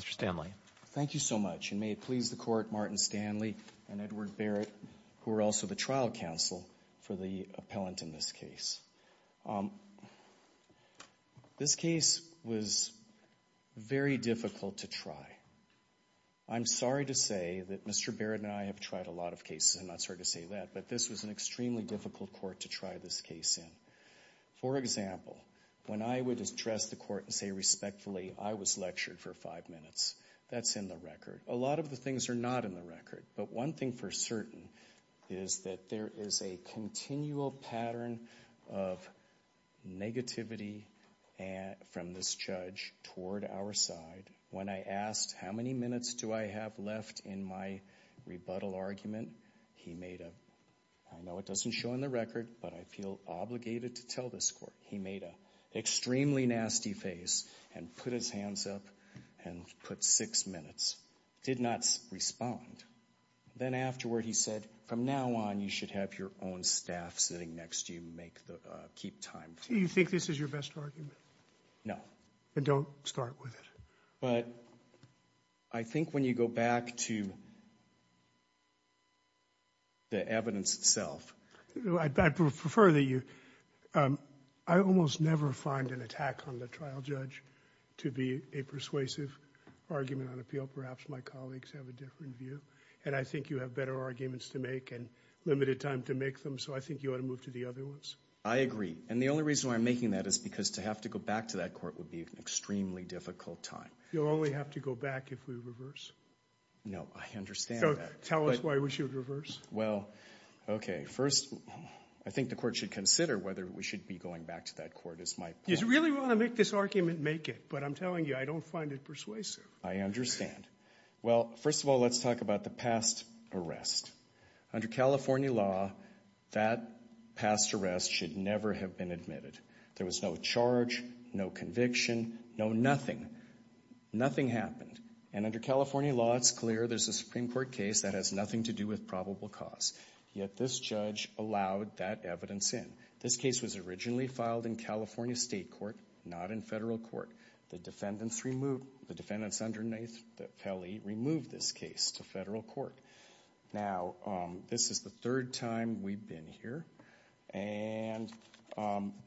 Mr. Stanley. Thank you so much and may it please the court Martin Stanley and Edward Barrett who are also the trial counsel for the appellant in this case. This case was very difficult to try. I'm sorry to say that Mr. Barrett and I have tried a lot of cases I'm not sorry to say that but this was an extremely difficult court to try this case in. For example, when I would address the court and say respectfully I was lectured for five minutes that's in the record. A lot of the things are not in the record but one thing for certain is that there is a continual pattern of negativity and from this judge toward our side. When I asked how many minutes do I have left in my rebuttal argument he made a I know it doesn't show in the record but I feel obligated to tell this court he made a extremely nasty face and put his hands up and put six minutes did not respond. Then afterward he said from now on you should have your own staff sitting next to you make the keep time. Do you think this is your best argument? No. Don't start with it. But I think when you go back to the evidence itself. I prefer that you I almost never find an attack on the trial judge to be a persuasive argument on appeal. Perhaps my colleagues have a different view and I think you have better arguments to make and limited time to make them so I think you ought to move to the other ones. I agree and the only reason why I'm making that is because to have to go back to that court would be an extremely difficult time. You'll only have to go back if we reverse. No I understand. Tell us why we should reverse. Well okay first I think the court should consider whether we should be going back to that court. You really want to make this argument make it but I'm telling you I don't find it persuasive. I understand. Well first of all let's talk about the past arrest. Under California law that past arrest should never have been admitted. There was no charge, no conviction, no nothing. Nothing happened and under California law it's clear there's a Supreme Court case that has nothing to do with probable cause. Yet this judge allowed that evidence in. This case was originally filed in California State Court, not in federal court. The defendants removed the defendants underneath the Pele removed this case to federal court. Now this is the third time we've been here and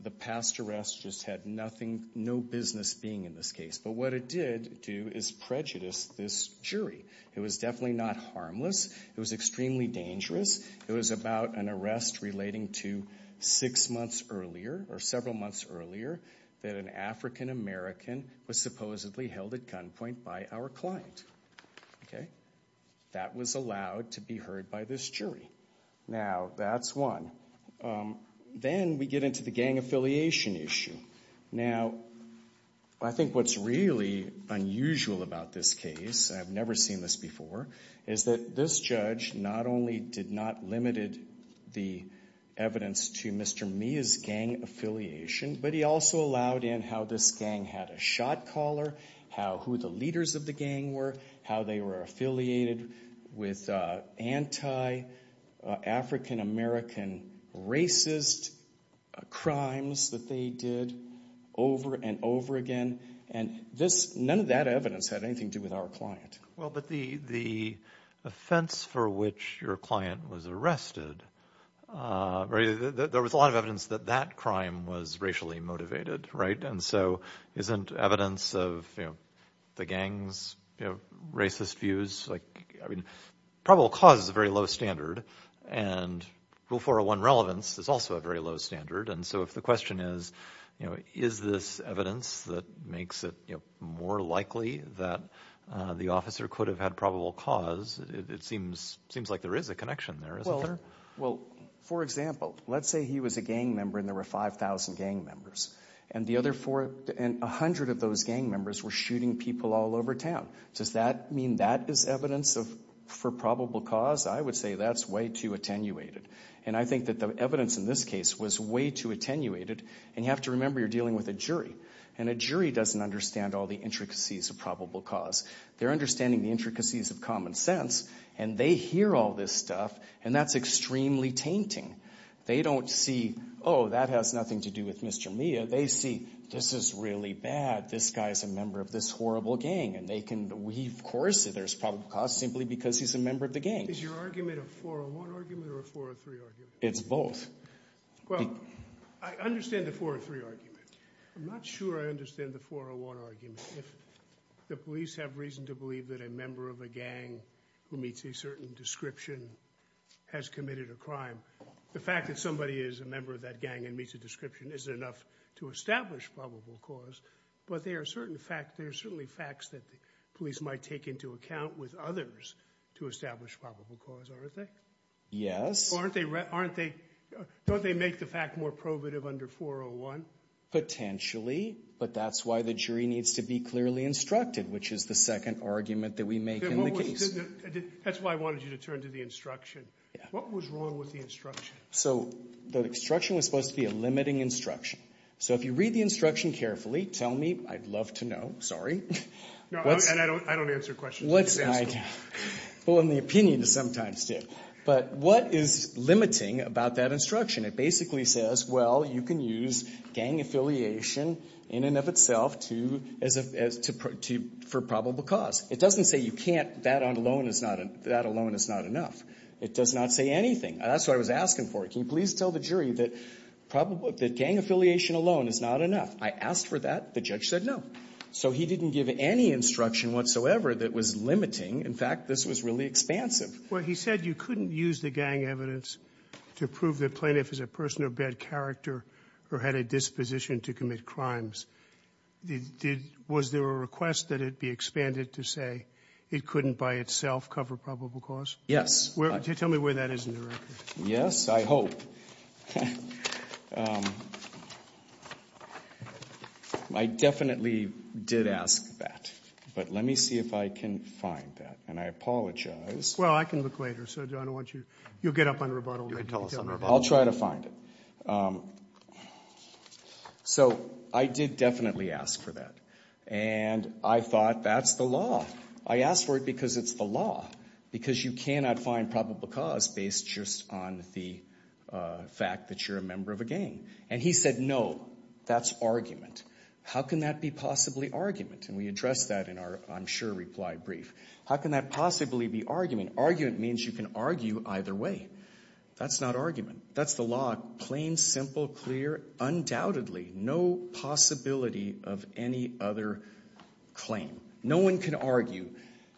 the past arrest just had nothing, no business being in this case but what it did do is prejudice this jury. It was definitely not harmless. It was extremely dangerous. It was about an arrest relating to six months earlier or several months earlier that an African-American was supposedly held at gunpoint by our client. Okay that was allowed to be heard by this jury. Now that's one. Then we get into the gang affiliation issue. Now I think what's really unusual about this case, I've never seen this before, is that this judge not only did not limited the evidence to Mr. Mia's gang affiliation but he also allowed in how this gang had a shot-caller, how who the leaders of the gang were, how they were affiliated with anti-African-American racist crimes that they did over and over again and this none of that evidence had anything to do with our client. Well but the the offense for which your client was arrested, there was a lot of evidence that that crime was racially motivated, right? And so isn't evidence of the gang's racist views, like I mean probable cause is a very low standard and Rule 401 relevance is also a very low standard and so if the question is, you know, is this evidence that makes it more likely that the officer could have had probable cause, it seems like there is a connection there. Well for example, let's say he was a gang member and there were 5,000 gang members and the other four and a hundred of those gang members were shooting people all over town. Does that mean that is evidence of for probable cause? I would say that's way too attenuated and I think that the evidence in this case was way too attenuated and you have to remember you're dealing with a jury and a jury doesn't understand all the intricacies of probable cause. They're understanding the intricacies of common sense and they hear all this stuff and that's extremely tainting. They don't see oh that has nothing to do with Mr. Mia, they see this is really bad, this guy's a member of this horrible gang and they can we of course there's probable cause simply because he's a member of the gang. Is your argument a 401 argument or a 403 argument? It's both. Well, I understand the 403 argument. I'm not sure I understand the 401 argument. If the police have reason to believe that a member of a gang who meets a certain description has committed a crime, the fact that somebody is a member of that gang and meets a description isn't enough to establish probable cause but there are certain facts, there are certainly facts that the police might take into account with others to establish probable cause, aren't they? Yes. Aren't they, don't they make the fact more probative under 401? Potentially, but that's why the jury needs to be clearly instructed which is the second argument that we make in the case. That's why I wanted you to turn to the instruction. What was wrong with the instruction? So the instruction was supposed to be a limiting instruction. So if you read the instruction carefully, tell me, I'd love to know, sorry. And I don't answer questions. Well, in the opinion sometimes do. But what is limiting about that instruction? It basically says, well, you can use gang affiliation in and of itself to, as a, as to, for probable cause. It doesn't say you can't, that alone is not, that alone is not enough. It does not say anything. That's what I was asking for. Can you please tell the jury that gang affiliation alone is not enough? I asked for that, the judge said no. So he didn't give any instruction whatsoever that was limiting. In fact, this was really expansive. Well, he said you couldn't use the gang evidence to prove the plaintiff is a person of bad character or had a disposition to commit crimes. Did, was there a request that it be expanded to say it couldn't by itself cover probable cause? Yes. Tell me where that is in the record. Yes, I hope. I definitely did ask that. But let me see if I can find that. And I apologize. Well, I can look later. So I don't want you, you'll get up on rebuttal. You can tell us on rebuttal. I'll try to find it. So I did definitely ask for that. And I thought that's the law. I asked for it because it's the law. Because you cannot find probable cause based just on the fact that you're a member of a gang. And he said no, that's argument. How can that be possibly argument? And we addressed that in our I'm sure reply brief. How can that possibly be argument? Argument means you can argue either way. That's not argument. That's the law, plain, simple, clear, undoubtedly, no possibility of any other claim. No one can argue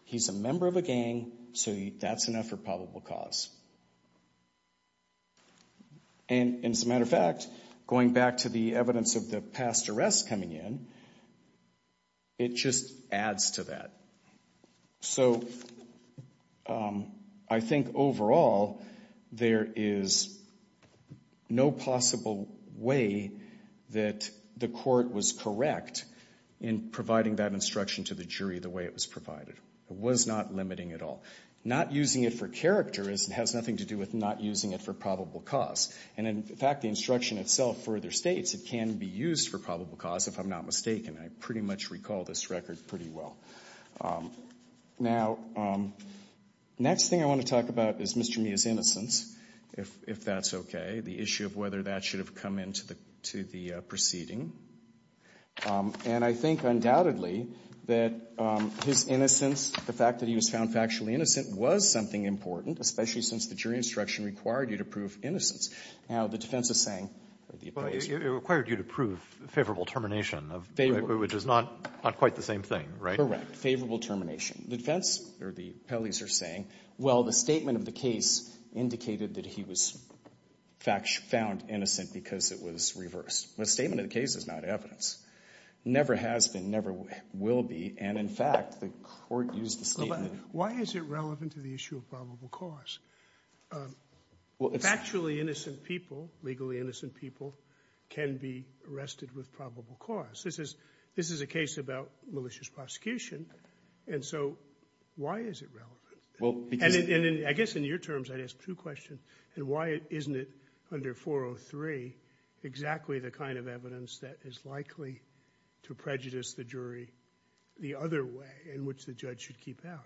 he's a member of a gang, so that's enough for probable cause. And as a matter of fact, going back to the evidence of the past arrests coming in, it just adds to that. So I think overall, there is no possible way that the court was correct in providing that instruction to the jury the way it was provided. It was not limiting at all. Not using it for character has nothing to do with not using it for probable cause. And in fact, the instruction itself further states it can be used for probable cause, if I'm not mistaken. I pretty much recall this record pretty well. Now, next thing I want to talk about is Mr. Mia's innocence, if that's okay, the issue of whether that should have come into the proceeding. And I think undoubtedly that his innocence, the fact that he was found factually innocent, was something important, especially since the jury instruction required you to prove innocence. Now, the defense is saying, or the appellees are saying. Well, it required you to prove favorable termination, which is not quite the same thing, right? Correct. Favorable termination. The defense, or the appellees are saying, well, the statement of the case indicated that he was found innocent because it was reversed. The statement of the case is not evidence. Never has been, never will be, and in fact, the court used the statement. Why is it relevant to the issue of probable cause? Factually innocent people, legally innocent people, can be arrested with probable cause. This is a case about malicious prosecution, and so why is it relevant? And I guess in your terms, I'd ask two questions. And why isn't it under 403 exactly the kind of evidence that is likely to prejudice the jury the other way in which the judge should keep out?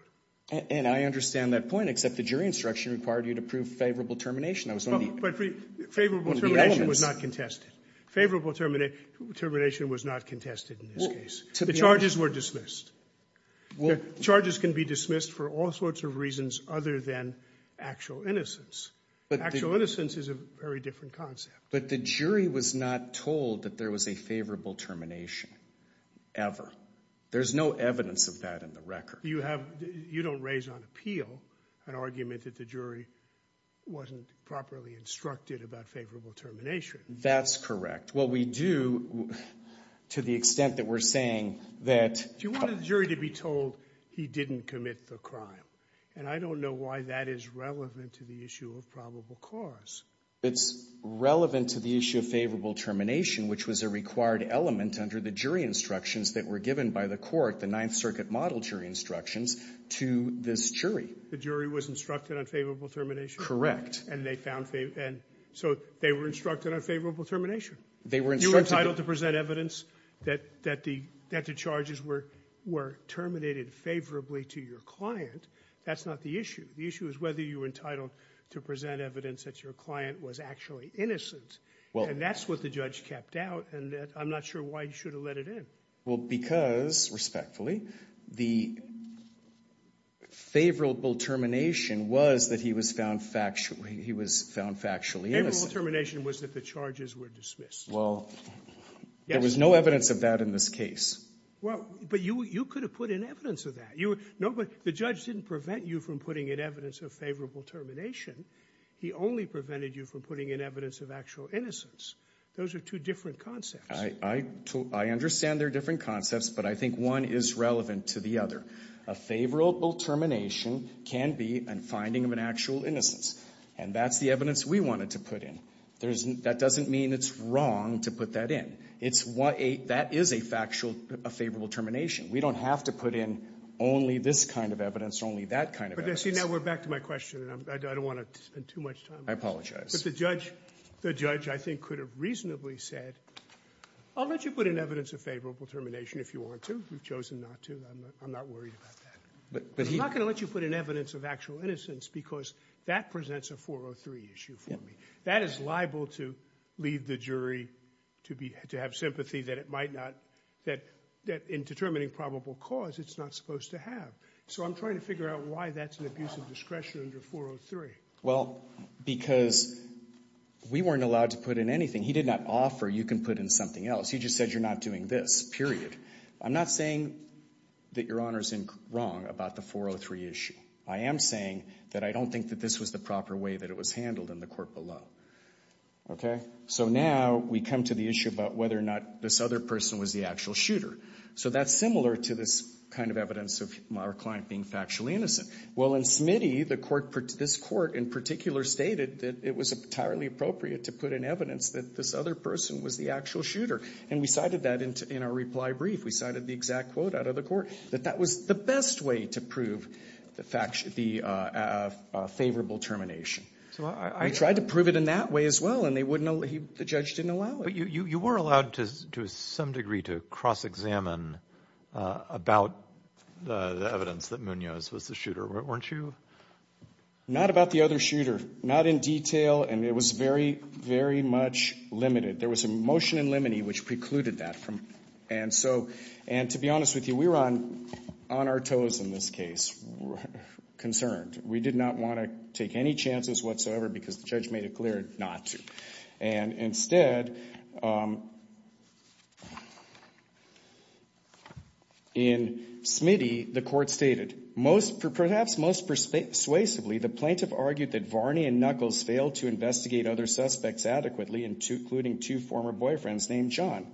And I understand that point, except the jury instruction required you to prove favorable termination. That was one of the elements. But favorable termination was not contested. Favorable termination was not contested in this case. The charges were dismissed. Charges can be dismissed for all sorts of reasons other than actual innocence. Actual innocence is a very different concept. But the jury was not told that there was a favorable termination, ever. There's no evidence of that in the record. You don't raise on appeal an argument that the jury wasn't properly instructed about favorable termination. That's correct. What we do, to the extent that we're saying that... But you wanted the jury to be told he didn't commit the crime. And I don't know why that is relevant to the issue of probable cause. It's relevant to the issue of favorable termination, which was a required element under the jury instructions that were given by the court, the Ninth Circuit model jury instructions, to this jury. The jury was instructed on favorable termination? Correct. And they found favorable. And so they were instructed on favorable termination? They were instructed... Well, if you're entitled to present evidence that the charges were terminated favorably to your client, that's not the issue. The issue is whether you were entitled to present evidence that your client was actually innocent. And that's what the judge kept out. And I'm not sure why you should have let it in. Well, because, respectfully, the favorable termination was that he was found factually innocent. Favorable termination was that the charges were dismissed. Well, there was no evidence of that in this case. Well, but you could have put in evidence of that. The judge didn't prevent you from putting in evidence of favorable termination. He only prevented you from putting in evidence of actual innocence. Those are two different concepts. I understand they're different concepts, but I think one is relevant to the other. A favorable termination can be a finding of an actual innocence. And that's the wrong to put that in. That is a factual favorable termination. We don't have to put in only this kind of evidence, only that kind of evidence. But see, now we're back to my question, and I don't want to spend too much time on I apologize. But the judge, I think, could have reasonably said, I'll let you put in evidence of favorable termination if you want to. We've chosen not to. I'm not worried about that. But he... He's not going to let you put in evidence of actual innocence because that presents a 403 issue for me. Yeah. That is liable to lead the jury to be... to have sympathy that it might not... that in determining probable cause, it's not supposed to have. So I'm trying to figure out why that's an abuse of discretion under 403. Well, because we weren't allowed to put in anything. He did not offer, you can put in something else. He just said, you're not doing this, period. I'm not saying that Your Honor's wrong about the 403 issue. I am saying that I don't think that this was the proper way that it was handled in the court below. Okay? So now we come to the issue about whether or not this other person was the actual shooter. So that's similar to this kind of evidence of our client being factually innocent. Well, in Smitty, the court... this court in particular stated that it was entirely appropriate to put in evidence that this other person was the actual shooter. And we cited that in our reply brief. We cited the exact quote out of the court, that that was the best way to prove the favorable termination. So I tried to prove it in that way as well, and the judge didn't allow it. But you were allowed to some degree to cross-examine about the evidence that Munoz was the shooter, weren't you? Not about the other shooter. Not in detail, and it was very, very much limited. There was a motion in limine, which precluded that. And so, and to be honest with you, we were on our toes in this case, concerned. We did not want to take any chances whatsoever because the judge made it clear not to. And instead, in Smitty, the court stated, perhaps most persuasively, the plaintiff argued that Varney and Knuckles failed to investigate other suspects adequately, including two former boyfriends named John.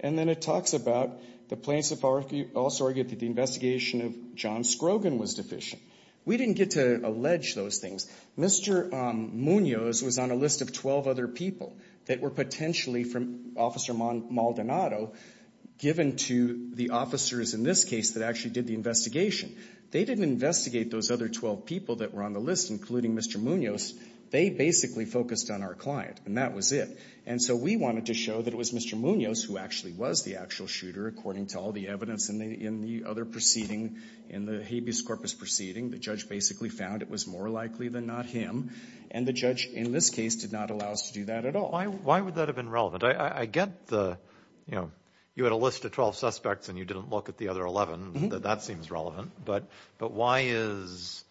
And then it talks about the plaintiff also argued that the investigation of John Scrogan was deficient. We didn't get to allege those things. Mr. Munoz was on a list of 12 other people that were potentially from Officer Maldonado given to the officers in this case that actually did the They didn't investigate those other 12 people that were on the list, including Mr. Munoz. They basically focused on our client, and that was it. And so we wanted to show that it was Mr. Munoz who actually was the actual shooter, according to all the evidence in the other proceeding, in the habeas corpus proceeding. The judge basically found it was more likely than not him. And the judge, in this case, did not allow us to do that at all. Why would that have been relevant? I get the, you know, you had a list of 12 suspects and you didn't look at the other 11. That seems relevant. But why is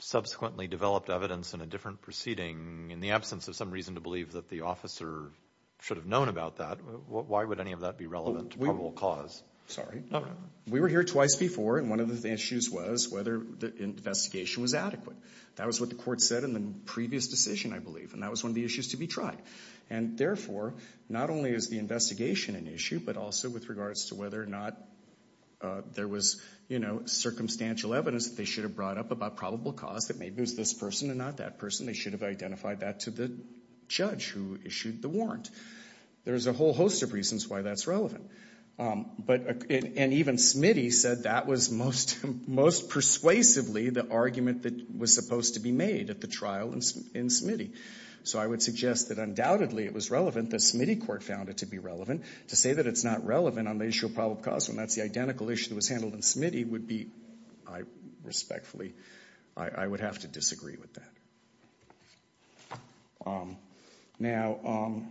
subsequently developed evidence in a different proceeding in the case? I'm sure you should have known about that. Why would any of that be relevant to probable cause? Sorry. We were here twice before, and one of the issues was whether the investigation was adequate. That was what the court said in the previous decision, I believe. And that was one of the issues to be tried. And therefore, not only is the investigation an issue, but also with regards to whether or not there was, you know, circumstantial evidence that they should have brought up about probable cause, that maybe it was this person and not that person. They should have identified that to the judge who issued the warrant. There's a whole host of reasons why that's relevant. And even Smitty said that was most persuasively the argument that was supposed to be made at the trial in Smitty. So I would suggest that undoubtedly it was relevant that Smitty court found it to be relevant. To say that it's not relevant on the issue of probable cause when that's the identical issue that was handled in Smitty would be, I respectfully, I would have to disagree with that. Now,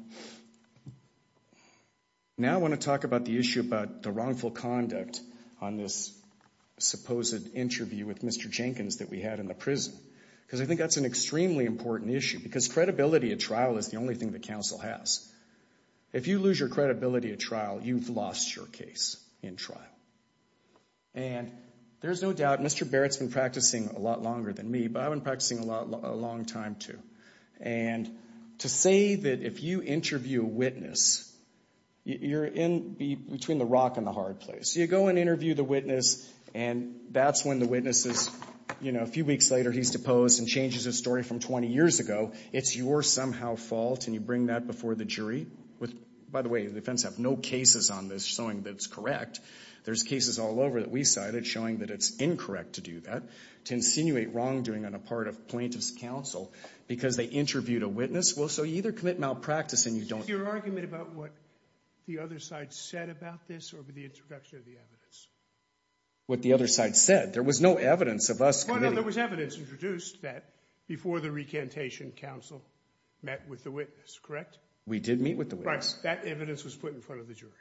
I want to talk about the issue about the wrongful conduct on this supposed interview with Mr. Jenkins that we had in the prison. Because I think that's an extremely important issue. Because credibility at trial is the only thing that counsel has. If you lose your credibility at trial, you've lost your case in trial. And there's no doubt, Mr. Barrett's been practicing a lot longer than me, but I've been practicing a long time too. And to say that if you interview a witness, you're in between the rock and the hard place. You go and interview the witness and that's when the witness is, you know, a few weeks later he's deposed and changes his story from 20 years ago. It's your somehow fault and you bring that before the jury. By the way, the defense have no cases on this showing that it's correct. There's cases all over that we cited showing that it's incorrect to do that, to insinuate wrongdoing on a part of plaintiff's counsel because they interviewed a witness. Well, so you either commit malpractice and you don't. Is your argument about what the other side said about this or the introduction of the evidence? What the other side said. There was no evidence of us committing. Well, no, there was evidence introduced that before the recantation, counsel met with the witness, correct? We did meet with the witness. Right. That evidence was put in front of the jury.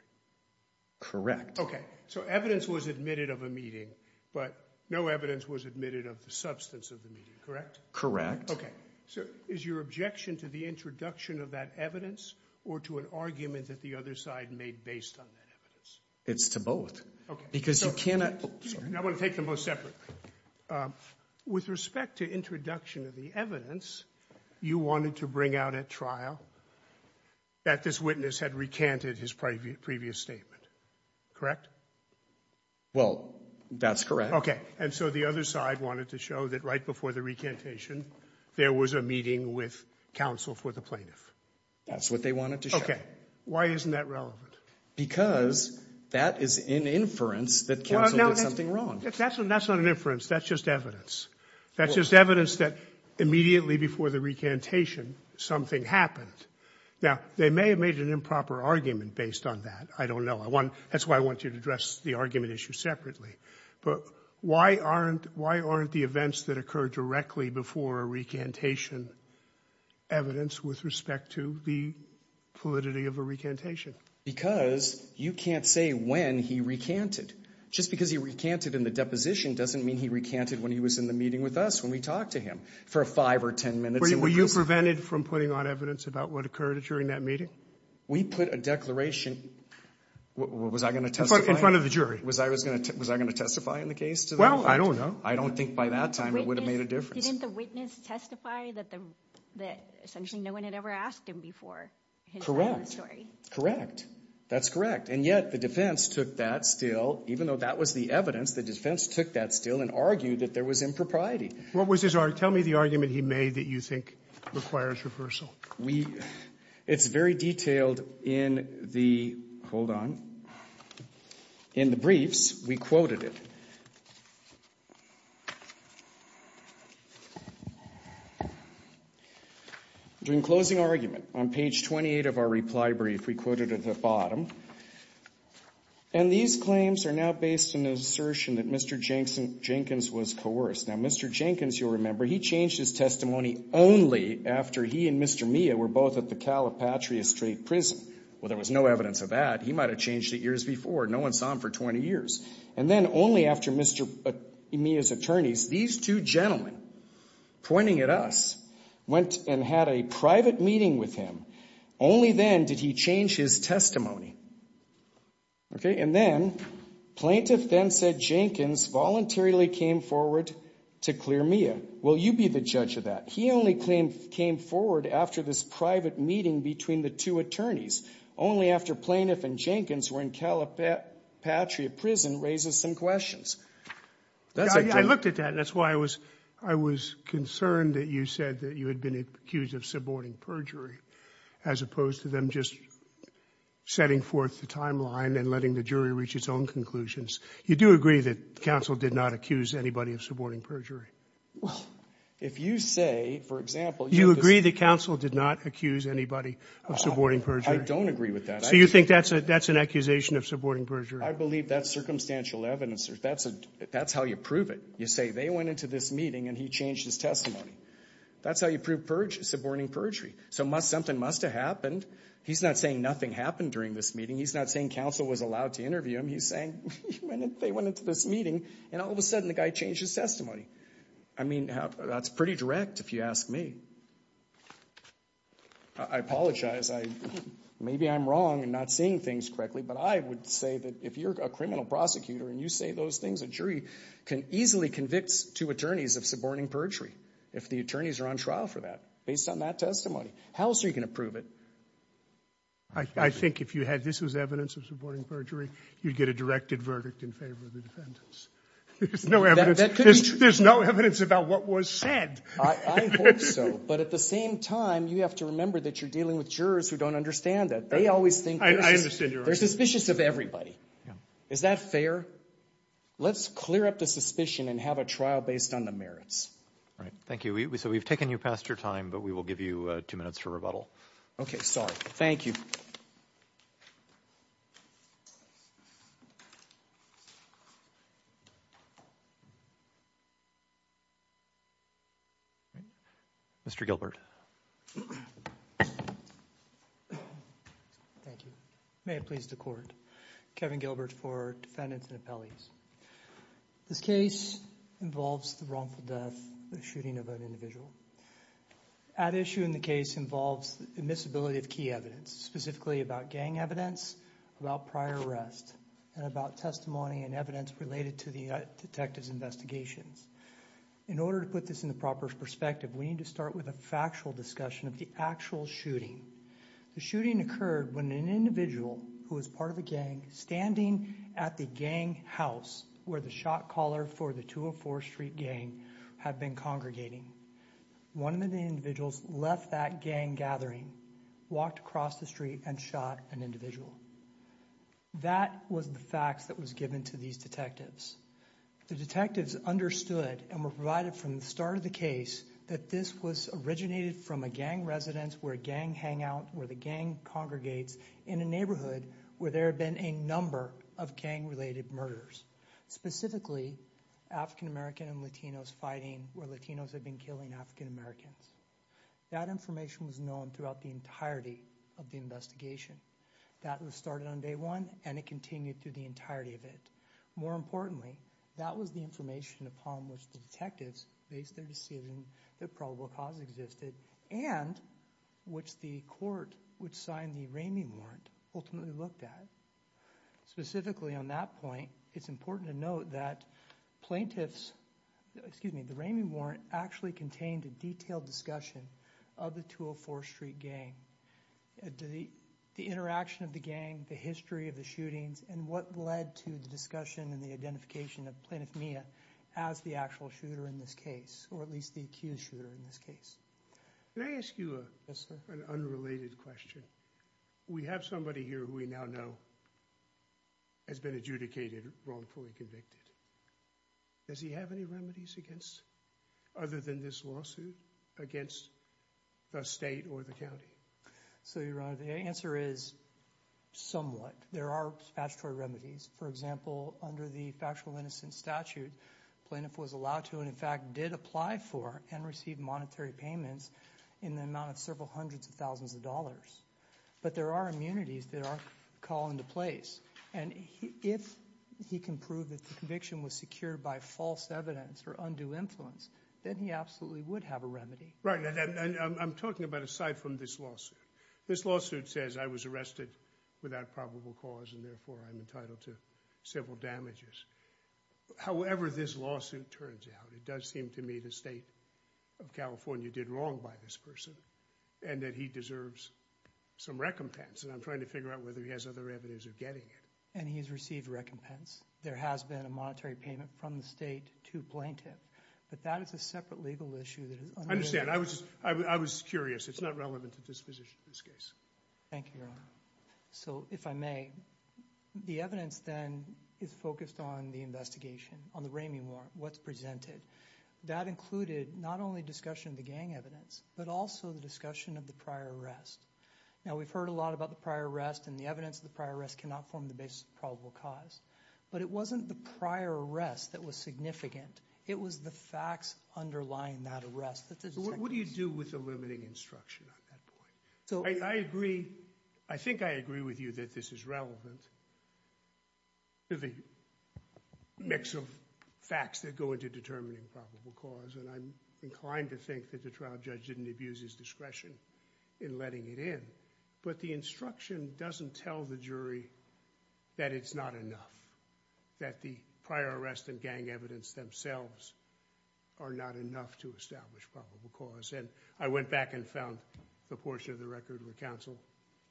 Correct. So evidence was admitted of a meeting but no evidence was admitted of the substance of the meeting, correct? Correct. Okay. So is your objection to the introduction of that evidence or to an argument that the other side made based on that evidence? It's to both. Okay. Because you cannot. I want to take them both separately. With respect to introduction of the evidence, you wanted to bring out at trial that this witness had recanted his previous statement, correct? Well, that's correct. And so the other side wanted to show that right before the recantation, there was a meeting with counsel for the plaintiff. That's what they wanted to show. Okay. Why isn't that relevant? Because that is an inference that counsel did something wrong. That's not an inference. That's just evidence. That's just evidence that immediately before the recantation, something happened. Now, they may have made an improper argument based on that. I don't know. That's why I want you to address the argument issue separately. But why aren't the events that occur directly before a recantation evidence with respect to the validity of a recantation? Because you can't say when he recanted. Just because he recanted in the deposition doesn't mean he recanted when he was in the meeting with us when we talked to him for five or ten minutes. Were you prevented from putting on evidence about what occurred during that meeting? We put a declaration. Was I going to testify? In front of the jury. Was I going to testify in the case? Well, I don't know. I don't think by that time it would have made a difference. Didn't the witness testify that essentially no one had ever asked him before? Correct. That's correct. And yet the defense took that still, even though that was the evidence, the defense took that still and argued that there was impropriety. What was his argument? Tell me the argument he made that you think requires reversal. We – it's very detailed in the – hold on – in the briefs. We quoted it. During closing argument, on page 28 of our reply brief, we quoted at the bottom, and these claims are now based on the assertion that Mr. Jenkins was coerced. Now, Mr. Jenkins, you'll remember, he changed his testimony only after he and Mr. Mia were both at the Calipatria Street Prison. Well, there was no evidence of that. He might have changed it years before. No one saw him for 20 years. And then only after Mr. Mia's attorneys, these two gentlemen pointing at us, went and had a private meeting with him. Only then did he change his testimony. Okay? And then, plaintiff then said Jenkins voluntarily came forward to clear Mia. Will you be the judge of that? He only came forward after this private meeting between the two attorneys. Only after plaintiff and Jenkins were in Calipatria Prison raises some questions. I looked at that. That's why I was – I was concerned that you said that you had been accused of suborning perjury as opposed to them just setting forth the timeline and letting the jury reach its own conclusions. You do agree that counsel did not accuse anybody of suborning perjury? Well, if you say, for example, you have this – You agree that counsel did not accuse anybody of suborning perjury? I don't agree with that. So you think that's an accusation of suborning perjury? I believe that's circumstantial evidence. That's how you prove it. You say they went into this meeting and he changed his testimony. That's how you prove suborning perjury. So something must have happened. He's not saying nothing happened during this meeting. He's not saying counsel was allowed to interview him. He's saying they went into this meeting and all of a sudden the guy changed his testimony. I mean, that's pretty direct if you ask me. I apologize. Maybe I'm wrong in not seeing things correctly, but I would say that if you're a criminal prosecutor and you say those things, a jury can easily convict two attorneys of suborning perjury if the attorneys are on trial for that based on that testimony. How else are you going to prove it? I think if you had this as evidence of suborning perjury, you'd get a directed verdict in favor of the defendants. There's no evidence. That could be true. There's no evidence about what was said. I hope so. But at the same time, you have to remember that you're dealing with jurors who don't understand that. They always think – I understand your argument. They're suspicious of everybody. Is that fair? Let's clear up the suspicion and have a trial based on the merits. All right. Thank you. So we've taken you past your time, but we will give you two minutes to rebuttal. Okay. Sorry. Thank you. Mr. Gilbert. Thank you. May it please the Court. Kevin Gilbert for defendants and appellees. This case involves the wrongful death, the shooting of an individual. At issue in the case involves admissibility of key evidence, specifically about gang evidence, about prior arrest, and about testimony and evidence related to the detective's investigations. In order to put this in the proper perspective, we need to start with a factual discussion of the actual shooting. The shooting occurred when an individual who was part of a gang, standing at the gang house where the shot caller for the 204 Street gang had been congregating. One of the individuals left that gang gathering, walked across the street, and shot an individual. That was the facts that was given to these detectives. The detectives understood and were provided from the start of the case that this was originated from a gang residence where a gang hangout, where the gang congregates, in a neighborhood where there had been a number of gang-related murders. Specifically, African-American and Latinos fighting where Latinos had been killing African-Americans. That information was known throughout the entirety of the investigation. That was started on day one and it continued through the entirety of it. More importantly, that was the information upon which the detectives based their decision that probable cause existed and which the court, which signed the Raimi Warrant, ultimately looked at. Specifically on that point, it's important to note that plaintiffs, excuse me, the Raimi Warrant actually contained a detailed discussion of the 204 Street gang. The interaction of the gang, the history of the shootings, and what led to the discussion and the identification of Plaintiff Mia as the actual shooter in this case, or at least the accused shooter in this case. Can I ask you an unrelated question? We have somebody here who we now know has been adjudicated wrongfully convicted. Does he have any remedies against, other than this lawsuit, against the state or the county? So, Your Honor, the answer is somewhat. There are statutory remedies. For example, under the Factual Innocence Statute, plaintiff was allowed to, and in fact did apply for and receive monetary payments in the amount of several hundreds of thousands of dollars. But there are immunities that are called into place. And if he can prove that the conviction was secured by false evidence or undue influence, then he absolutely would have a remedy. Right, and I'm talking about aside from this lawsuit. This lawsuit says I was arrested without probable cause and therefore I'm entitled to civil damages. However this lawsuit turns out, it does seem to me the state of California did wrong by this person and that he deserves some recompense. And I'm trying to figure out whether he has other evidence of getting it. And he's received recompense. There has been a monetary payment from the state to plaintiff. But that is a separate legal issue that is... I understand. I was curious. It's not relevant to this position, this case. Thank you, Your Honor. So, if I may, the evidence then is focused on the investigation, on the Ramey warrant, what's presented. That included not only discussion of the gang evidence, but also the discussion of the prior arrest. Now we've heard a lot about the prior arrest and the evidence of the prior arrest cannot form the basis of probable cause. But it wasn't the prior arrest that was significant. It was the facts underlying that arrest. What do you do with the limiting instruction on that point? I agree. I think I agree with you that this is relevant to the mix of facts that go into determining probable cause. And I'm inclined to think that the trial judge didn't abuse his discretion in letting it in. But the instruction doesn't tell the jury that it's not enough, that the prior arrest and gang evidence themselves are not enough to establish probable cause. And I went back and found the portion of the record where counsel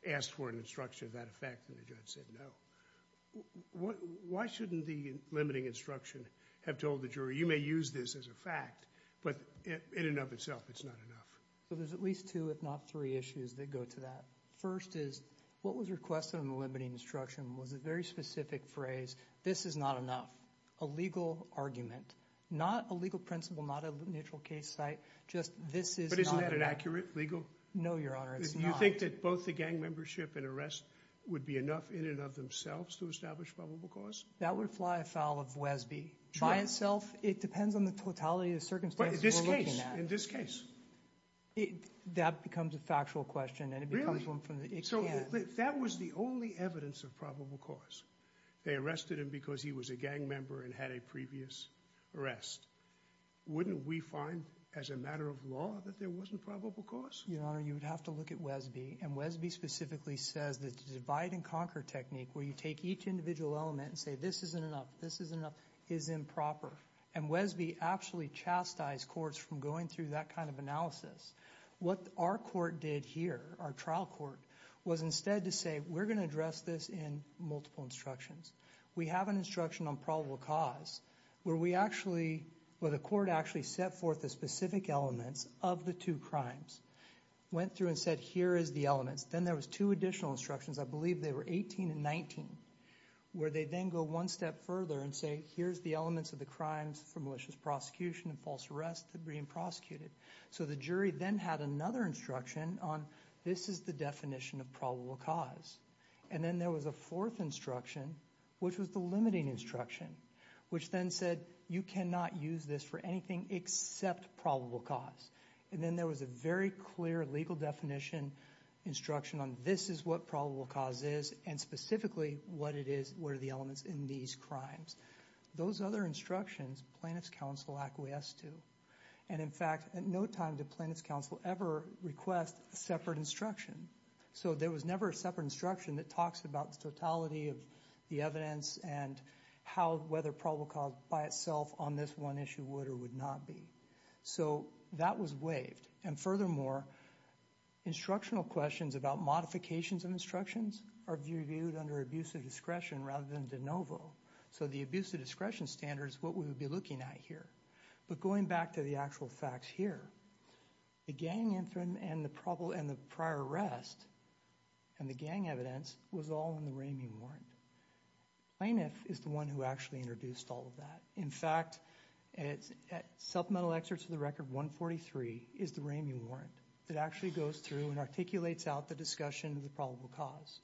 asked for an instruction of that effect, and the judge said no. Why shouldn't the limiting instruction have told the jury, you may use this as a fact, but in and of itself it's not enough? There's at least two, if not three, issues that go to that. First is, what was requested in the limiting instruction was a very specific phrase, this is not enough, a legal argument. Not a legal principle, not a neutral case site, just this is not enough. But isn't that inaccurate, legal? No, Your Honor, it's not. Do you think that both the gang membership and arrest would be enough in and of themselves to establish probable cause? That would fly afoul of Wesby. By itself, it depends on the totality of the circumstances we're looking at. In this case? That becomes a factual question. So that was the only evidence of probable cause. They arrested him because he was a gang member and had a previous arrest. Wouldn't we find, as a matter of law, that there wasn't probable cause? Your Honor, you would have to look at Wesby, and Wesby specifically says that the divide and conquer technique where you take each individual element and say this isn't enough, this isn't enough, is improper. And Wesby actually chastised courts from going through that kind of analysis. What our court did here, our trial court, was instead to say we're going to address this in multiple instructions. We have an instruction on probable cause where the court actually set forth the specific elements of the two crimes, went through and said here is the elements. Then there was two additional instructions, I believe they were 18 and 19, where they then go one step further and say here's the elements of the crimes for malicious prosecution and false arrest that are being prosecuted. So the jury then had another instruction on this is the definition of probable cause. And then there was a fourth instruction, which was the limiting instruction, which then said you cannot use this for anything except probable cause. And then there was a very clear legal definition instruction on this is what probable cause is and specifically what it is, what are the elements in these crimes. Those other instructions plaintiff's counsel acquiesced to. And in fact, at no time did plaintiff's counsel ever request a separate instruction. So there was never a separate instruction that talks about the totality of the evidence and how whether probable cause by itself on this one issue would or would not be. So that was waived. And furthermore, instructional questions about modifications of instructions are viewed under abuse of discretion rather than de novo. So the abuse of discretion standard is what we would be looking at here. But going back to the actual facts here, the gang and the prior arrest and the gang evidence was all in the Ramey Warrant. Plaintiff is the one who actually introduced all of that. In fact, supplemental excerpt to the record 143 is the Ramey Warrant that actually goes through and articulates out the discussion of the probable cause.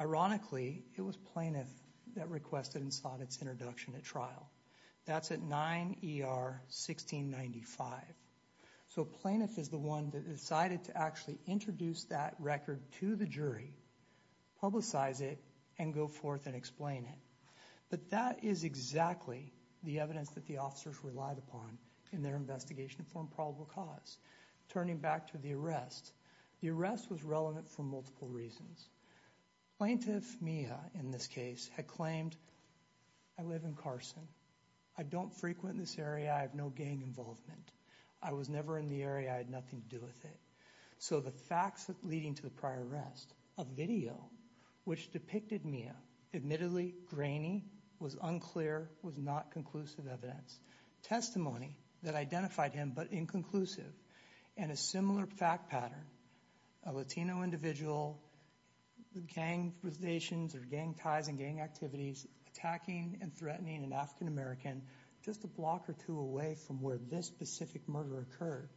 Ironically, it was plaintiff that requested and sought its introduction at trial. That's at 9 ER 1695. So plaintiff is the one that decided to actually introduce that record to the jury, publicize it, and go forth and explain it. But that is exactly the evidence that the officers relied upon in their investigation for improbable cause. Turning back to the arrest, the arrest was relevant for multiple reasons. Plaintiff Mia, in this case, had claimed, I live in Carson. I don't frequent this area. I have no gang involvement. I was never in the area. I had nothing to do with it. So the facts leading to the prior arrest of video, which depicted Mia, admittedly grainy, was unclear, was not conclusive evidence. Testimony that identified him, but inconclusive. And a similar fact pattern, a Latino individual with gang relations or gang ties and gang activities attacking and threatening an African American just a block or two away from where this specific murder occurred.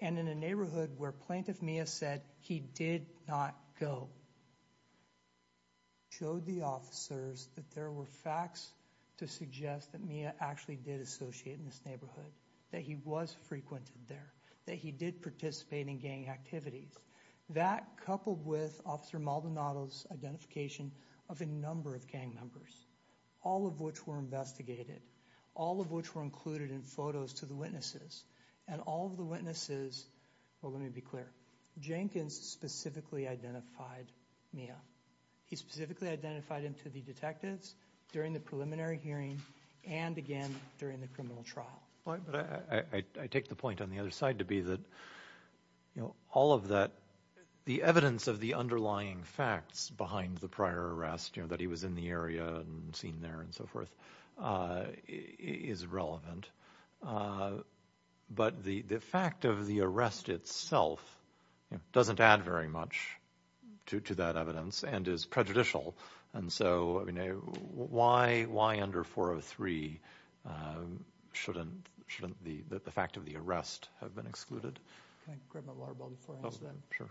And in a neighborhood where plaintiff Mia said he did not go. Showed the officers that there were facts to suggest that Mia actually did associate in this neighborhood. That he was frequented there. That he did participate in gang activities. That coupled with Officer Maldonado's identification of a number of gang members. All of which were investigated. All of which were included in photos to the witnesses. And all of the witnesses, well let me be clear, Jenkins specifically identified Mia. He specifically identified him to the detectives during the preliminary hearing and again during the criminal trial. I take the point on the other side to be that all of that the evidence of the underlying facts behind the prior arrest, that he was in the area and seen there and so forth, is relevant. But the fact of the arrest itself doesn't add very much to that evidence and is prejudicial. And so why under 403 shouldn't the fact of the arrest have been excluded? Can I grab my water bottle before I answer that?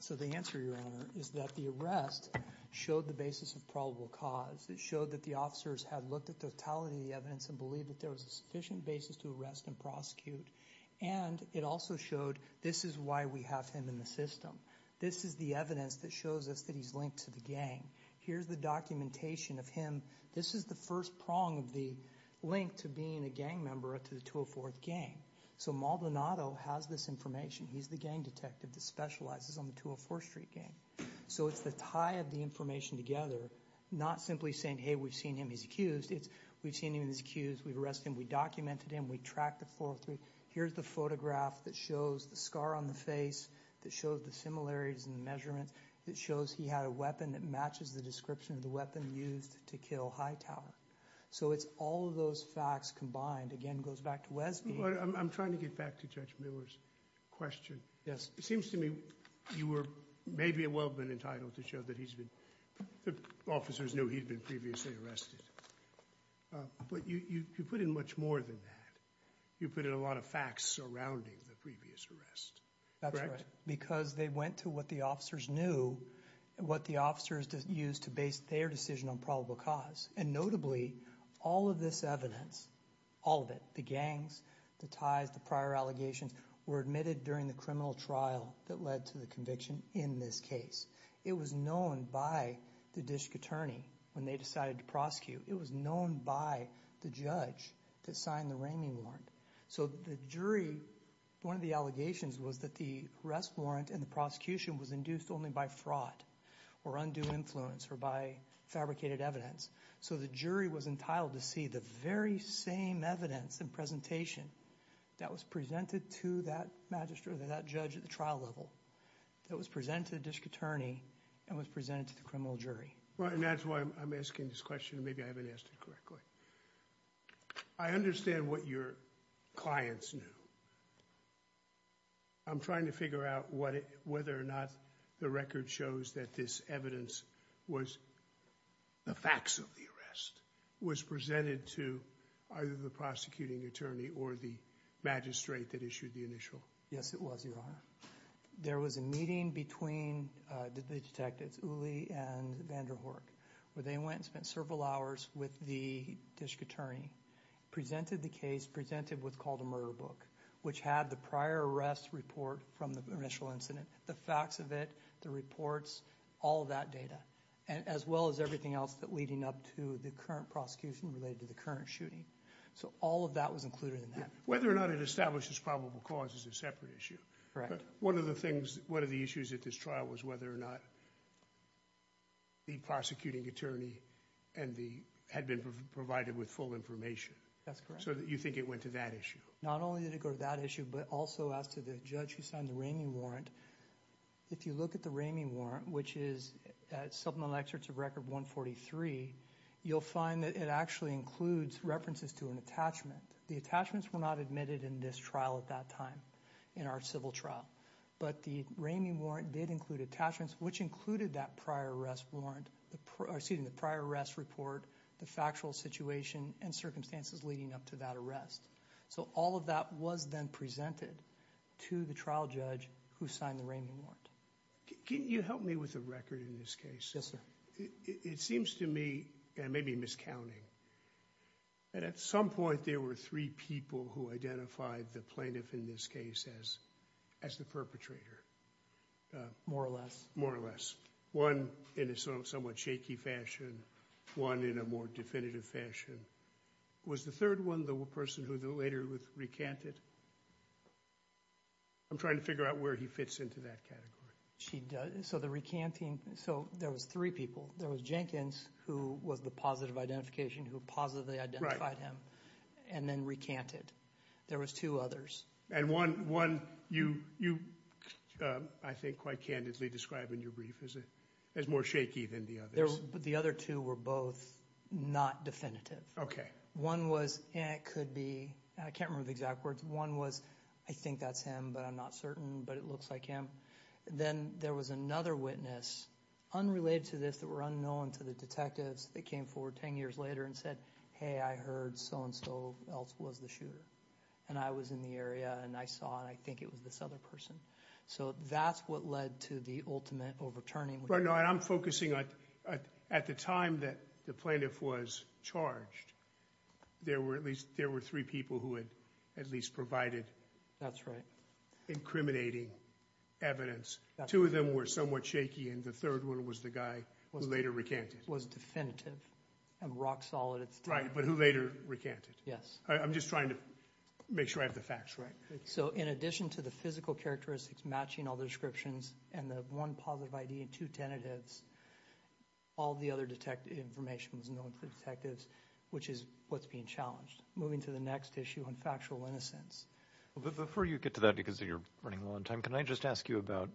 So the answer, Your Honor, is that the arrest showed the basis of probable cause. It showed that the officers had looked at the totality of the evidence and believed that there was a sufficient basis to arrest and prosecute. And it also showed this is why we have him in the system. This is the evidence that shows us that he's linked to the gang. Here's the documentation of him. This is the first prong of the link to being a gang member to the 204th gang. So Maldonado has this information. He's the gang detective that specializes on the 204th Street gang. So it's the tie of the information together not simply saying, hey, we've seen him. He's accused. It's we've seen him. He's accused. We've arrested him. We documented him. We tracked the 403. Here's the photograph that shows the scar on the face that shows the similarities in the measurement that shows he had a weapon that matches the description of the weapon used to kill Hightower. So it's all of those facts combined. Again, it goes back to Wesby. I'm trying to get back to Judge Miller's question. It seems to me you were maybe a weapon entitled to show that he's been officers knew he'd been previously arrested. But you put in much more than that. You put in a lot of facts surrounding the previous arrest. Because they went to what the officers knew, what the officers used to base their decision on probable cause. And notably all of this evidence, all of it, the gangs, the ties, the prior allegations, were admitted during the criminal trial that led to the conviction in this case. It was known by the district attorney when they decided to prosecute. It was known by the judge that signed the ramming warrant. So the jury one of the allegations was that the arrest warrant and the prosecution was induced only by fraud or undue influence or by fabricated evidence. So the jury was entitled to see the very same evidence and presentation that was presented to that magistrate or that judge at the trial level that was presented to the district attorney and was presented to the criminal jury. And that's why I'm asking this question and maybe I haven't asked it correctly. I understand what your clients knew. I'm trying to figure out whether or not the record shows that this evidence was the facts of the arrest, was presented to either the prosecuting attorney or the magistrate that issued the initial. Yes it was, your honor. There was a meeting between the detectives Uli and Vanderhorck where they went and spent several hours with the district attorney presented the case, presented what's called a murder book, which had the prior arrest report from the initial incident, the facts of it, the reports, all of that data as well as everything else that leading up to the current prosecution related to the current shooting. So all of that was included in that. Whether or not it establishes probable cause is a separate issue. One of the things, one of the issues at this trial was whether or not the prosecuting attorney and the, had been provided with full information. So you think it went to that issue? Not only did it go to that issue but also as to the judge who signed the Ramey Warrant if you look at the Ramey Warrant which is at supplemental excerpts of Record 143 you'll find that it actually includes references to an attachment. The attachments were not admitted in this trial at that time, in our civil trial. But the Ramey Warrant did include attachments which included that prior arrest warrant, or excuse me, the prior arrest report, the factual situation and circumstances leading up to that arrest. So all of that was then presented to the trial judge who signed the Ramey Warrant. Can you help me with the record in this case? Yes sir. It seems to me, and maybe miscounting, that at some point there were three people who identified the plaintiff in this case as the perpetrator. More or less. More or less. One in a somewhat shaky fashion, one in a more definitive fashion. Was the third one the person who later recanted? I'm trying to figure out where he fits into that category. So the recanting, so there was three people. There was Jenkins, who was the positive identification, who positively identified him, and then recanted. There was two others. And one, you I think quite candidly described in your brief as more shaky than the others. The other two were both not definitive. Okay. One was, and it could be, I can't remember the exact words, one was, I think that's him, but I'm not certain, but it looks like him. Then there was another witness unrelated to this that were unknown to the detectives that came forward ten years later and said, hey, I heard so-and-so else was the shooter. And I was in the area, and I saw, and I think it was this other person. So that's what led to the ultimate overturning. Right, and I'm focusing on, at the time that the plaintiff was charged, there were at least three people who had at least provided incriminating evidence. Two of them were somewhat shaky, and the third one was the guy who later recanted. Was definitive. And rock solid. Right, but who later recanted. Yes. I'm just trying to make sure I have the facts right. So in addition to the physical characteristics matching all the descriptions, and the one positive ID and two tentatives, all the other information was known to the detectives, which is what's being challenged. Moving to the next issue on factual innocence. Before you get to that because you're running low on time, can I just ask you about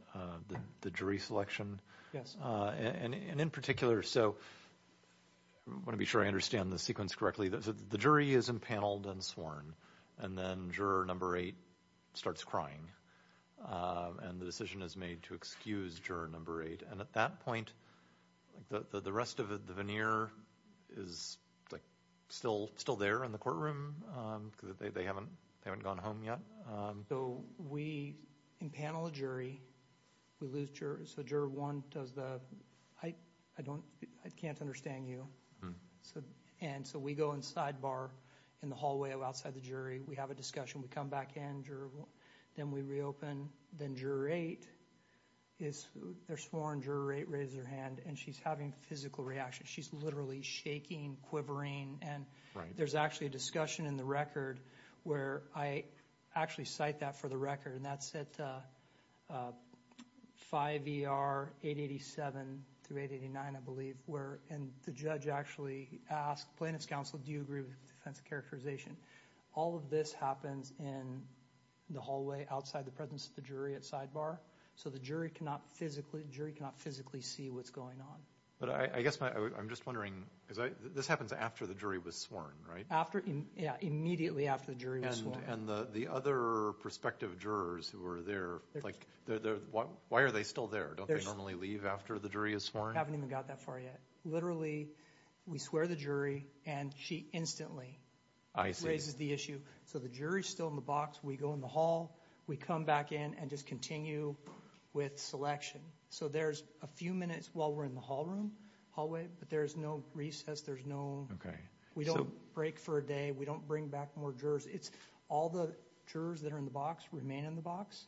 the jury selection? Yes. And in particular, so I want to be sure I understand the sequence correctly. The jury is impaneled and sworn. And then juror number eight starts crying. And the decision is made to excuse juror number eight. And at that point the rest of the veneer is still there in the courtroom because they haven't gone home yet. So we impanel a jury. We lose jurors. So juror one does the, I can't understand you. And so we go and sidebar in the hallway outside the jury. We have a discussion. We come back in. Then we reopen. Then juror eight is sworn. Juror eight raises her hand. And she's having physical reactions. She's literally shaking, quivering. And there's actually a discussion in the record where I actually cite that for the record and that's at 5ER 887 through 889 I believe, where the judge actually asked plaintiff's counsel, do you agree with the defense characterization? All of this happens in the hallway outside the presence of the jury at sidebar. So the jury cannot physically see what's going on. This happens after the jury was sworn, right? Immediately after the jury was sworn. And the other prospective jurors who were there, why are they still there? Don't they normally leave after the jury is sworn? Literally, we swear the jury and she instantly raises the issue. So the jury's still in the box. We go in the hall. We come back in and just continue with selection. So there's a few minutes while we're in the hallway but there's no recess. We don't break for a day. We don't bring back more jurors. All the jurors that are in the box remain in the box.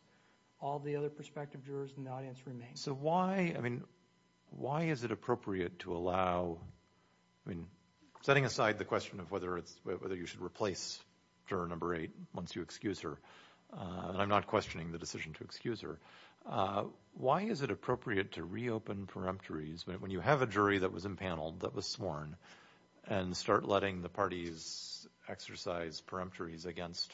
All the other prospective jurors in the audience remain. So why is it appropriate to allow setting aside the question of whether you should replace juror number 8 once you excuse her and I'm not questioning the decision to excuse her. Why is it appropriate to reopen preemptories when you have a jury that was impaneled, that was sworn and start letting the parties exercise preemptories against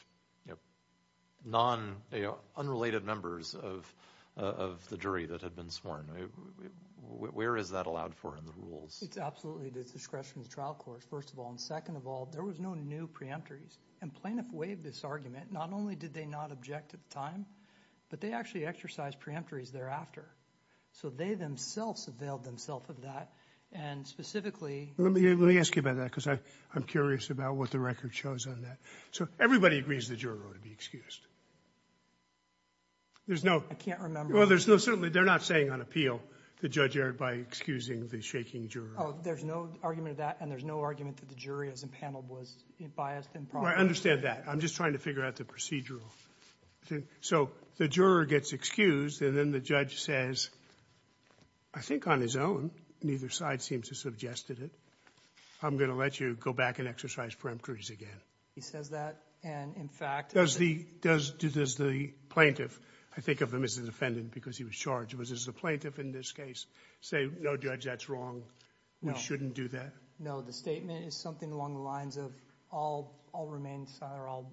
unrelated members of the jury that had been sworn? Where is that allowed for in the rules? It's absolutely the discretion of the trial court, first of all. And second of all, there was no new preemptories. And plaintiff waived this argument. Not only did they not object at the time, but they actually exercised preemptories thereafter. So they themselves availed themselves of that and specifically... Let me ask you about that because I'm curious about what the record shows on that. So everybody agrees the juror ought to be excused. There's no... I can't remember. Well, certainly they're not saying on appeal that Judge Eric, by excusing the shaking juror... Oh, there's no argument of that and there's no argument that the jury as impaneled was biased and... I understand that. I'm just trying to figure out the procedural. So the juror gets excused and then the judge says, I think on his own, neither side seems to have suggested it, I'm going to let you go back and exercise preemptories again. He says that and in fact... Does the plaintiff, I think of him as the defendant because he was charged, does the plaintiff in this case say, no, Judge, that's wrong, we shouldn't do that? No, the statement is something along the lines of I'll remain silent or I'll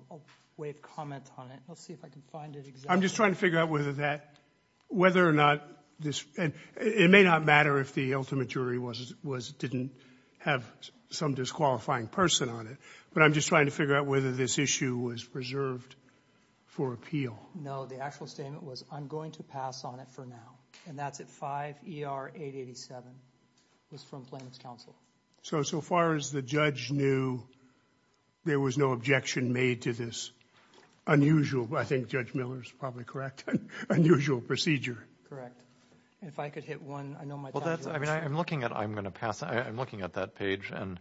waive comment on it. Let's see if I can find it exactly. I'm just trying to figure out whether that, whether or not this... It may not matter if the ultimate jury didn't have some disqualifying person on it but I'm just trying to figure out whether this issue was preserved for appeal. No, the actual statement was I'm going to pass on it for now and that's at 5 ER 887. It was from Plaintiff's counsel. So, so far as the judge knew there was no objection made to this unusual, I think Judge Miller's probably correct, unusual procedure. Correct. If I could hit one I know my time's up. I'm looking at I'm going to pass, I'm looking at that page and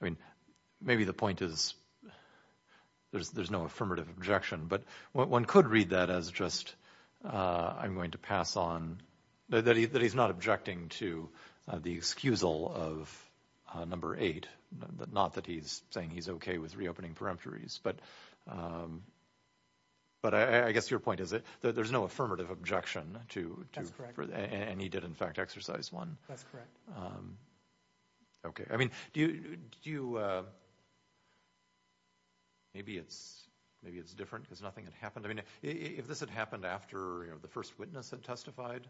I mean maybe the point is there's no affirmative objection but one could read that as just I'm going to pass on that he's not objecting to the excusal of number 8 not that he's saying he's okay with reopening peremptories but but I guess your point is that there's no affirmative objection to, and he did in fact exercise one. That's correct. Okay, I mean do you maybe it's, maybe it's different because nothing had happened. I mean if this had happened after the first witness had testified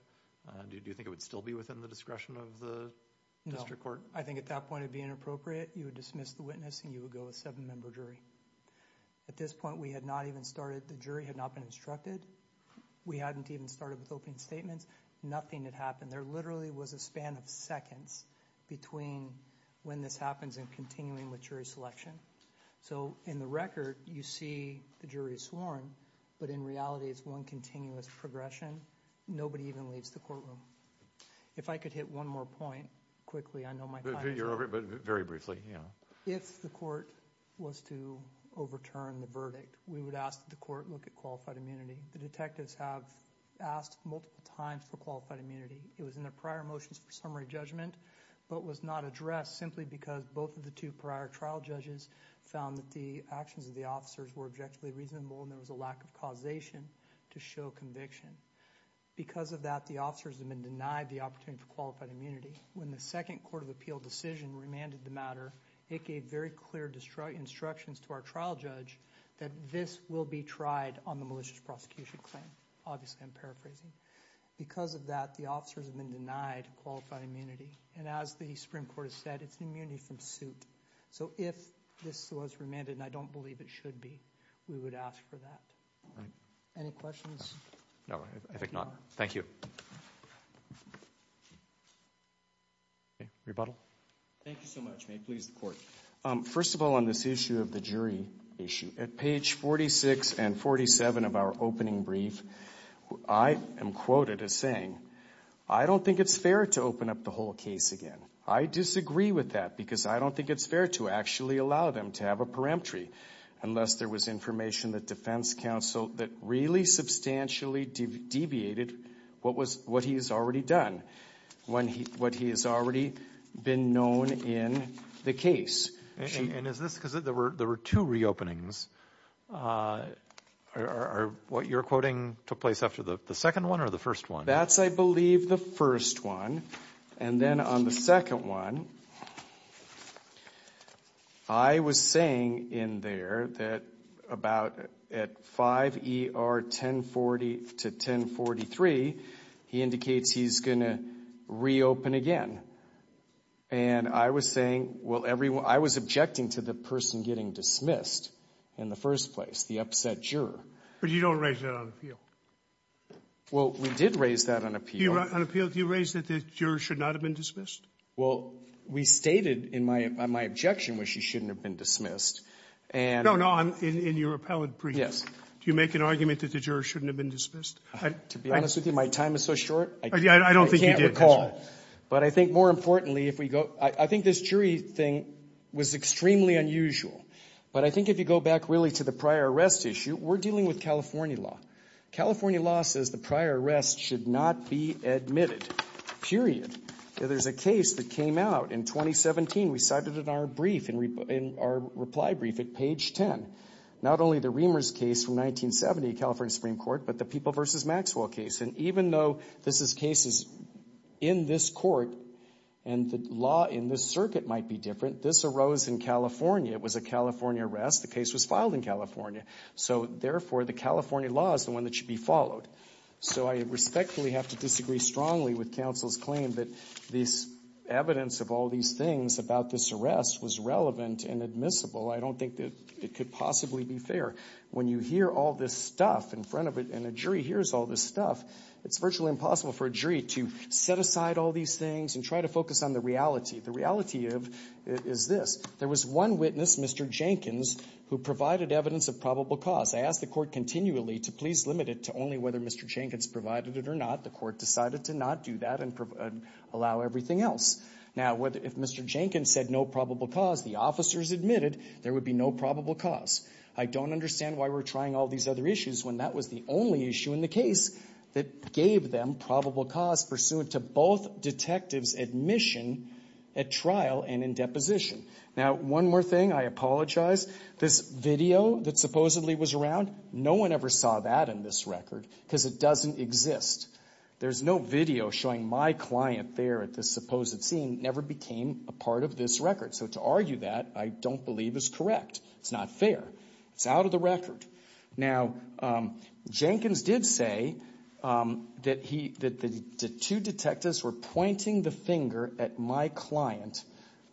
do you think it would still be within the discretion of the district court? No, I think at that point it would be inappropriate you would dismiss the witness and you would go with a 7 member jury. At this point we had not even started, the jury had not been instructed, we hadn't even started with opening statements, nothing had happened. There literally was a span of seconds between when this happens and continuing with jury selection. So in the record you see the jury is sworn but in reality it's one continuous progression. Nobody even leaves the courtroom. If I could hit one more point quickly, I know my time is up. Very briefly, yeah. If the court was to overturn the verdict, we would ask the court to look at qualified immunity. The detectives have asked multiple times for qualified immunity. It was in the prior motions for summary judgment but was not addressed simply because both of the two prior trial judges found that the actions of the officers were objectively reasonable and there was a lack of causation to show conviction. Because of that, the officers have been denied the opportunity for qualified immunity. When the second court of appeal decision remanded the matter, it gave very clear instructions to our trial judge that this will be tried on the malicious prosecution claim. Obviously I'm paraphrasing. Because of that, the officers have been denied qualified immunity and as the Supreme Court has said, it's an immunity from suit. So if this was remanded, and I don't believe it should be, we would ask for that. Any questions? No, I think not. Thank you. Thank you so much. May it please the court. First of all, on this issue of the jury issue, at page 46 and 47 of our opening brief, I am quoted as saying, I don't think it's fair to open up the whole case again. I disagree with that because I don't think it's fair to actually allow them to have a peremptory unless there was information that defense counsel that really substantially deviated what he has already done. What he has already been known in the case. And is this because there were two reopenings? Are what you're quoting took place after the second one or the first one? That's I believe the first one. And then on the second one, I was saying in there that about at 5 ER 1040 to 1043, he indicates he's going to reopen again. And I was saying, I was objecting to the person getting dismissed in the first place, the upset juror. But you don't raise that on appeal. Well, we did raise that on appeal. Do you raise that the juror should not have been dismissed? Well, we stated in my objection was she shouldn't have been dismissed. No, no. In your appellate brief, do you make an argument that the juror shouldn't have been dismissed? To be honest with you, my time is so short, I can't recall. But I think more importantly if we go, I think this jury thing was extremely unusual. But I think if you go back really to the prior arrest issue, we're dealing with California law. California law says the prior arrest should not be admitted. Period. There's a case that came out in 2017. We cited it in our brief in our reply brief at page 10. Not only the Riemers case from 1970, California Supreme Court, but the People v. Maxwell case. And even though this is cases in this court and the law in this circuit might be different, this arose in California. It was a California arrest. The case was filed in California. So therefore, the California law is the one that should be followed. So I respectfully have to disagree strongly with counsel's claim that this evidence of all these things about this arrest was relevant and admissible. I don't think that it could possibly be fair. When you hear all this stuff in front of it and a jury hears all this stuff, it's virtually impossible for a jury to set aside all these things and try to focus on the reality. The reality is this. There was one witness, Mr. Jenkins, who provided evidence of probable cause. I ask the court continually to please limit it to only whether Mr. Jenkins provided it or not. The court decided to not do that and allow everything else. Now, if Mr. Jenkins said no probable cause, the officers admitted there would be no probable cause. I don't understand why we're trying all these other issues when that was the only issue in the case that gave them probable cause pursuant to both detectives' admission at trial and in deposition. Now, one more thing. I apologize. This video that supposedly was around, no one ever saw that in this record because it doesn't exist. There's no video showing my client there at this supposed scene never became a part of this record. So to argue that, I don't believe is correct. It's not fair. It's out of the record. Now, Jenkins did say that the two detectives were pointing the finger at my client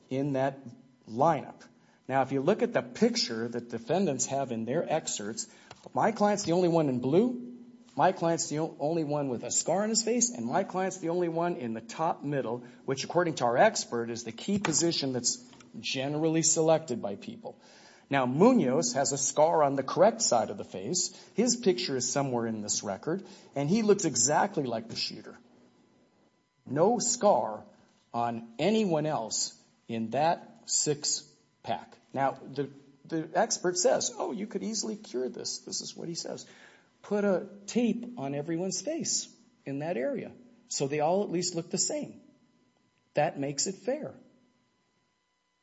in that lineup. Now, if you look at the picture that defendants have in their excerpts, my client is the only one in blue. My client is the only one with a scar on his face and my client is the only one in the top middle, which according to our expert is the key position that's generally selected by people. Now, Munoz has a scar on the correct side of the face. His picture is somewhere in this record and he looks exactly like the shooter. No scar on anyone else in that six pack. Now, the expert says, oh, you could easily cure this. This is what he says. Put a tape on everyone's face in that area so they all at least look the same. That makes it fair.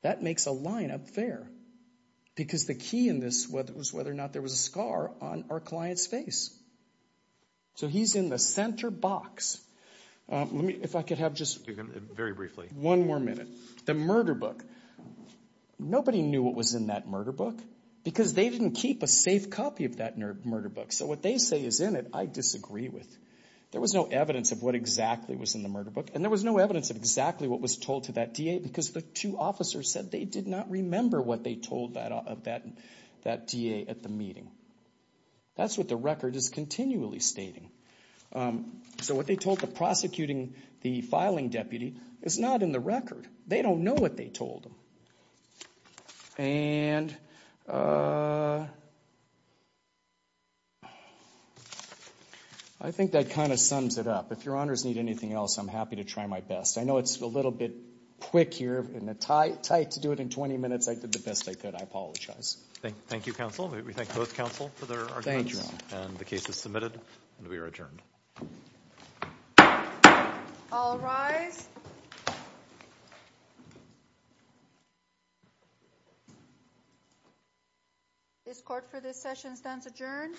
That makes a lineup fair because the key in this was whether or not there was a scar on our client's face. So he's in the center box. If I could have just one more minute. The murder book. Nobody knew what was in that murder book because they didn't keep a safe copy of that murder book. So what they say is in it, I disagree with. There was no evidence of what exactly was in the murder book and there was no evidence of exactly what was told to that DA because the two officers said they did not remember what they told that DA at the meeting. That's what the record is continually stating. So what they told the prosecuting, the filing deputy is not in the record. They don't know what they told them. And I think that kind of sums it up. If your honors need anything else, I'm happy to try my best. I know it's a little bit quick here and tight to do it in 20 minutes. I did the best I could. I apologize. Thank you, counsel. We thank both counsel for their arguments and the case is submitted and we are adjourned. All rise. This court for this session stands adjourned.